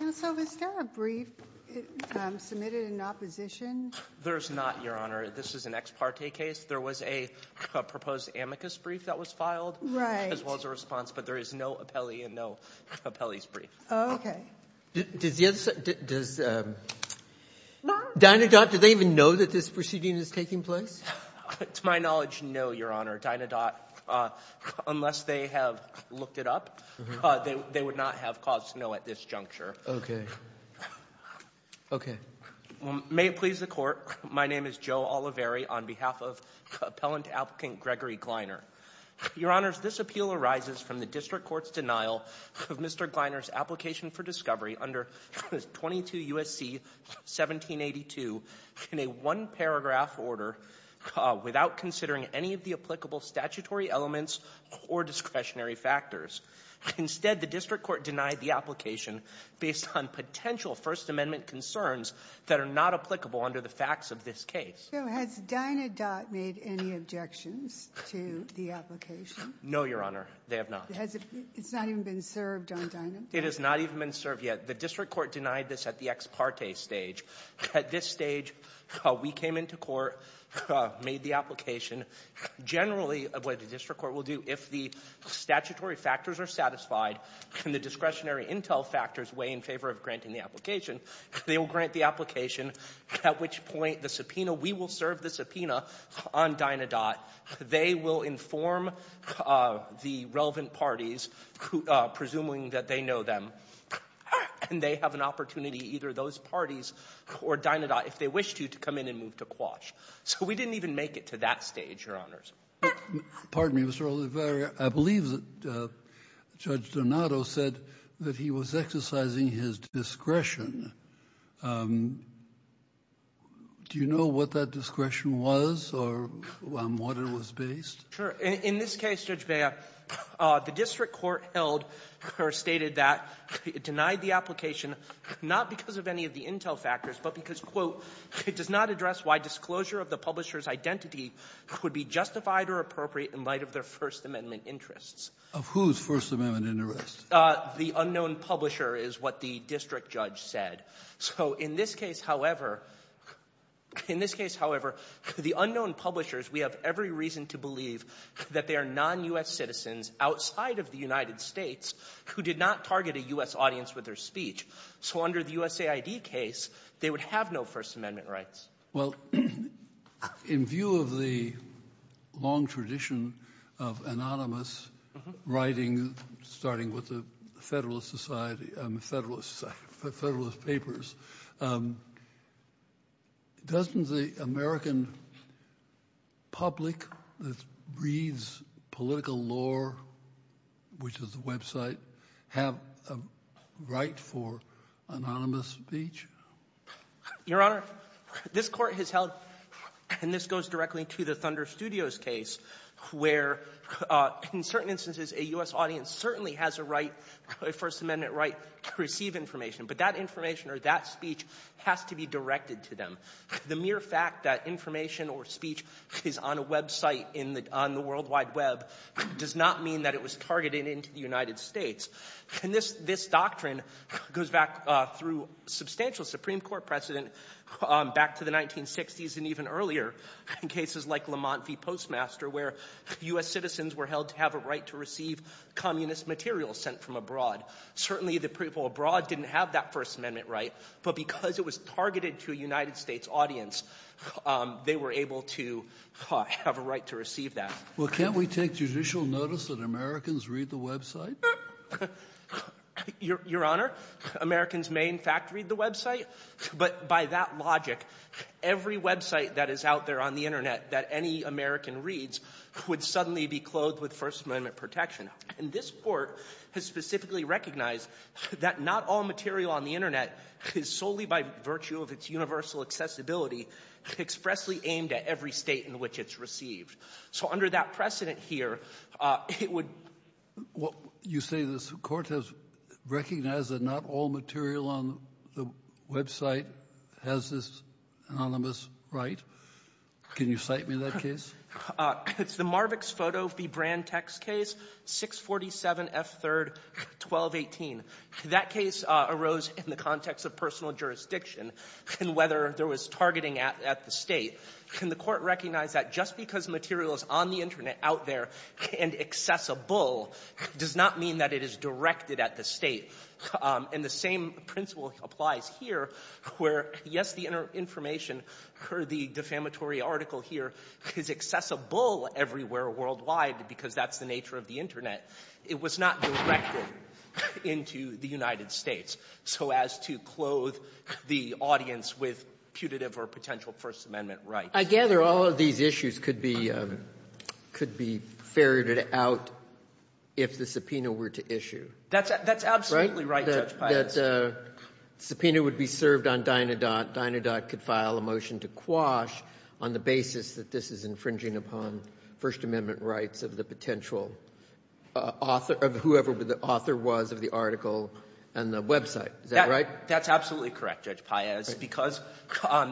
And so is there a brief submitted in opposition? There's not, Your Honor. This is an ex parte case. There was a proposed amicus brief that was filed, as well as a response, but there is no appellee and no appellee's brief. Does Dynadot, do they even know that this proceeding is taking place? To my knowledge, no, Your Honor, Dynadot, unless they have looked it up, they would not have caused to know at this juncture. Okay. May it please the Court, my name is Joe Oliveri on behalf of Appellant Applicant Gregory Gliner. Your Honors, this appeal arises from the District Court's denial of Mr. Gliner's application for discovery under 22 U.S.C. 1782 in a one-paragraph order without considering any of the applicable statutory elements or discretionary factors. Instead, the District Court denied the application based on potential First Amendment concerns that are not applicable under the facts of this case. So has Dynadot made any objections to the application? No, Your Honor, they have not. Has it, it's not even been served on Dynadot? It has not even been served yet. The District Court denied this at the ex parte stage. At this stage, we came into court, made the application. Generally, what the District Court will do, if the statutory factors are satisfied and the discretionary intel factors weigh in favor of granting the application, they will grant the application, at which point the subpoena, we will serve the subpoena on Dynadot. They will inform the relevant parties, presuming that they know them, and they have an opportunity, either those parties or Dynadot, if they wish to, to come in and move to Quash. So we didn't even make it to that stage, Your Honors. Pardon me, Mr. Oliveria, I believe that Judge Dynadot said that he was exercising his discretion. Do you know what that discretion was or on what it was based? Sure. In this case, Judge Bea, the District Court held or stated that it denied the application not because of any of the intel factors, but because, quote, it does not address why disclosure of the publisher's identity could be justified or appropriate in light of their First Amendment interests. Of whose First Amendment interests? The unknown publisher is what the district judge said. So in this case, however, in this case, however, the unknown publishers, we have every reason to believe that they are non-U.S. citizens outside of the United States who did not target a U.S. audience with their speech. So under the USAID case, they would have no First Amendment rights. Well, in view of the long tradition of anonymous writing, starting with the Federalist Society, Federalist Papers, doesn't the American public that reads political lore, which is the website, have a right for anonymous speech? Your Honor, this Court has held, and this goes directly to the Thunder Studios case, where in certain instances a U.S. audience certainly has a right, a First Amendment right, to receive information. But that information or that speech has to be directed to them. The mere fact that information or speech is on a website on the World Wide Web does not mean that it was targeted into the United States. And this doctrine goes back through substantial Supreme Court precedent, back to the 1960s and even earlier, in cases like Lamont v. Postmaster, where U.S. citizens were held to have a right to receive communist material sent from abroad. Certainly the people abroad didn't have that First Amendment right, but because it was targeted to a United States audience, they were able to have a right to receive that. Well, can't we take judicial notice that Americans read the website? Your Honor, Americans may in fact read the website, but by that logic, every website that is out there on the Internet that any American reads would suddenly be clothed with First Amendment protection. And this Court has specifically recognized that not all material on the Internet is solely by virtue of its universal accessibility expressly aimed at every state in which it's received. So under that precedent here, it would — Well, you say this Court has recognized that not all material on the website has this anonymous right? Can you cite me that case? It's the Marvix Photo v. Brand Text case, 647 F. 3rd, 1218. That case arose in the context of personal jurisdiction and whether there was targeting at the state. Can the Court recognize that just because material is on the Internet out there and accessible does not mean that it is directed at the state? And the same principle applies here where, yes, the information or the defamatory article here is accessible everywhere worldwide because that's the nature of the Internet. It was not directed into the United States so as to clothe the audience with putative or potential First Amendment rights. I gather all of these issues could be ferreted out if the subpoena were to issue. That's absolutely right, Judge Paez. That subpoena would be served on Dynadot. Dynadot could file a motion to quash on the basis that this is infringing upon First Amendment rights of the potential author of whoever the author was of the article and the website. Is that right? That's absolutely correct, Judge Paez, because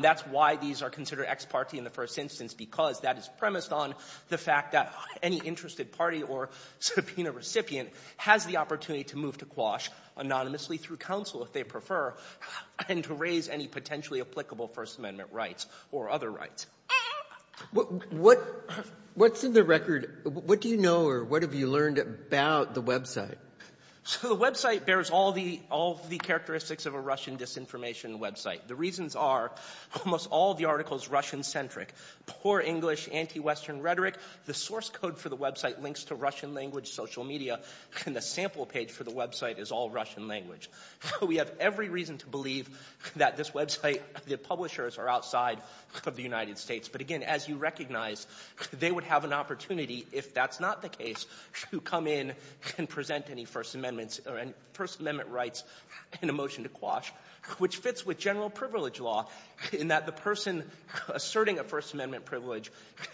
that's why these are considered ex parte in the first instance, because that is premised on the fact that any interested party or subpoena recipient has the opportunity to move to quash anonymously through counsel if they prefer and to raise any potentially applicable First Amendment rights or other rights. What's in the record? What do you know or what have you learned about the website? So the website bears all the characteristics of a Russian disinformation website. The reasons are almost all of the article is Russian centric. Poor English, anti-Western rhetoric. The source code for the website links to Russian language social media and the sample page for the website is all Russian language. We have every reason to believe that this website, the publishers are outside of the United States. But again, as you recognize, they would have an opportunity, if that's not the case, to come in and present any First Amendment rights in a motion to quash, which fits with general privilege law in that the person asserting a First Amendment privilege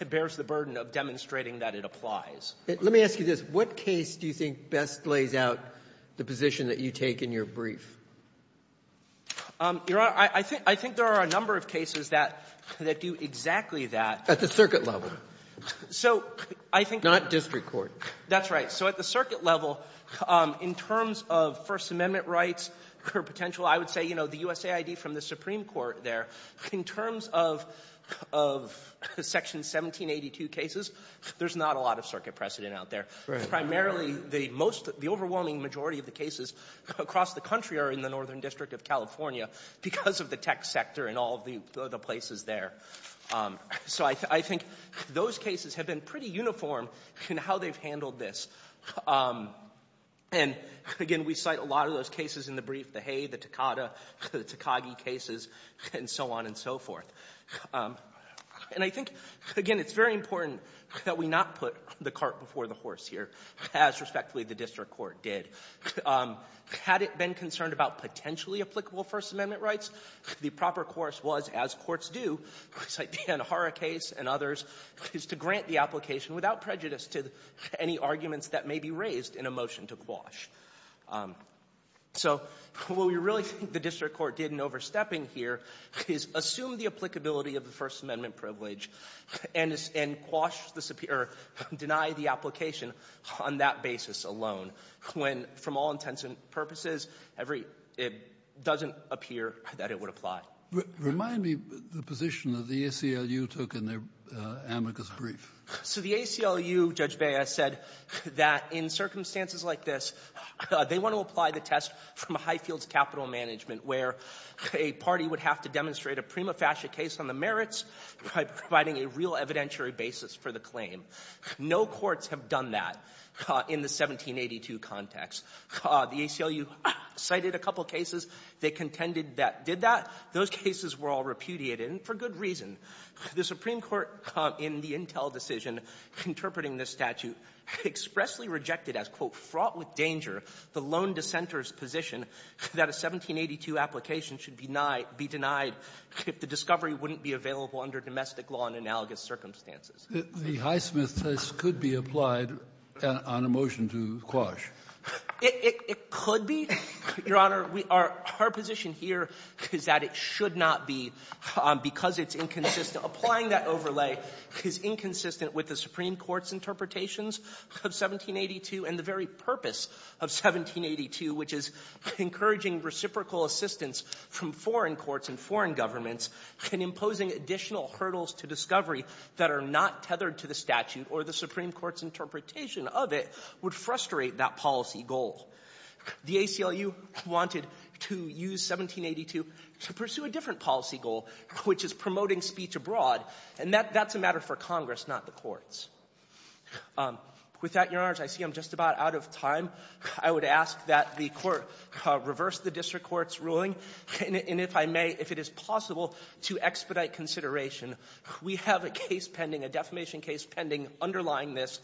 bears the burden of demonstrating that it applies. Let me ask you this. What case do you think best lays out the position that you take in your brief? Your Honor, I think there are a number of cases that do exactly that. At the circuit level. So I think the Not district court. That's right. So at the circuit level, in terms of First Amendment rights for potential, I would say, you know, the USAID from the Supreme Court there, in terms of Section 1782 cases, there's not a lot of circuit precedent out there. Primarily, the overwhelming majority of the cases across the country are in the Northern District of California because of the tech sector and all of the places there. So I think those cases have been pretty uniform in how they've handled this. And again, we cite a lot of those cases in the brief, the Hay, the Takada, the Takagi cases, and so on and so forth. And I think, again, it's very important that we not put the cart before the horse here, as respectfully the district court did. Had it been concerned about potentially applicable First Amendment rights, the proper course was, as courts do, like the Anahara case and others, is to grant the application without prejudice to any arguments that may be raised in a motion to quash. So what we really think the district court did in overstepping here is assume the applicability of the First Amendment privilege and quash the superior or deny the application on that basis alone, when, from all intents and purposes, every — it doesn't appear that it would apply. Remind me the position that the ACLU took in their amicus brief. So the ACLU, Judge Bea, said that in circumstances like this, they want to apply the test from a high-fields capital management where a party would have to demonstrate a prima facie case on the merits by providing a real evidentiary basis for the claim. No courts have done that in the 1782 context. The ACLU cited a couple cases. They contended that did that. Those cases were all repudiated, and for good reason. The Supreme Court, in the Intel decision interpreting this statute, expressly rejected as, quote, fraught with danger the lone dissenter's position that a 1782 application should be denied if the discovery wouldn't be available under domestic law in analogous circumstances. The Highsmith test could be applied on a motion to quash. It could be, Your Honor. Our position here is that it should not be, because it's inconsistent. Applying that overlay is inconsistent with the Supreme Court's interpretations of 1782 and the very purpose of 1782, which is encouraging reciprocal assistance from foreign courts and foreign governments, and imposing additional hurdles to discovery that are not tethered to the statute or the Supreme Court's interpretation of it would frustrate that policy goal. The ACLU wanted to use 1782 to pursue a different policy goal, which is promoting speech abroad, and that's a matter for Congress, not the courts. With that, Your Honors, I see I'm just about out of time. I would ask that the Court reverse the district court's ruling, and if I may, if it is possible to expedite consideration, we have a case pending, a defamation case pending underlying this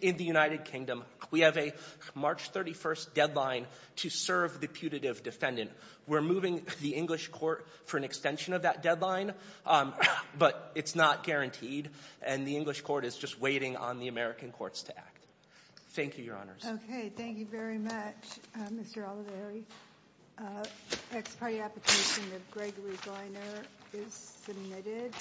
in the United Kingdom. We have a March 31st deadline to serve the putative defendant. We're moving the English court for an extension of that deadline, but it's not guaranteed, and the English court is just waiting on the American courts to act. Thank you, Your Honors. Okay. Thank you very much, Mr. Oliveri. Ex parte application of Gregory Gleiner is submitted.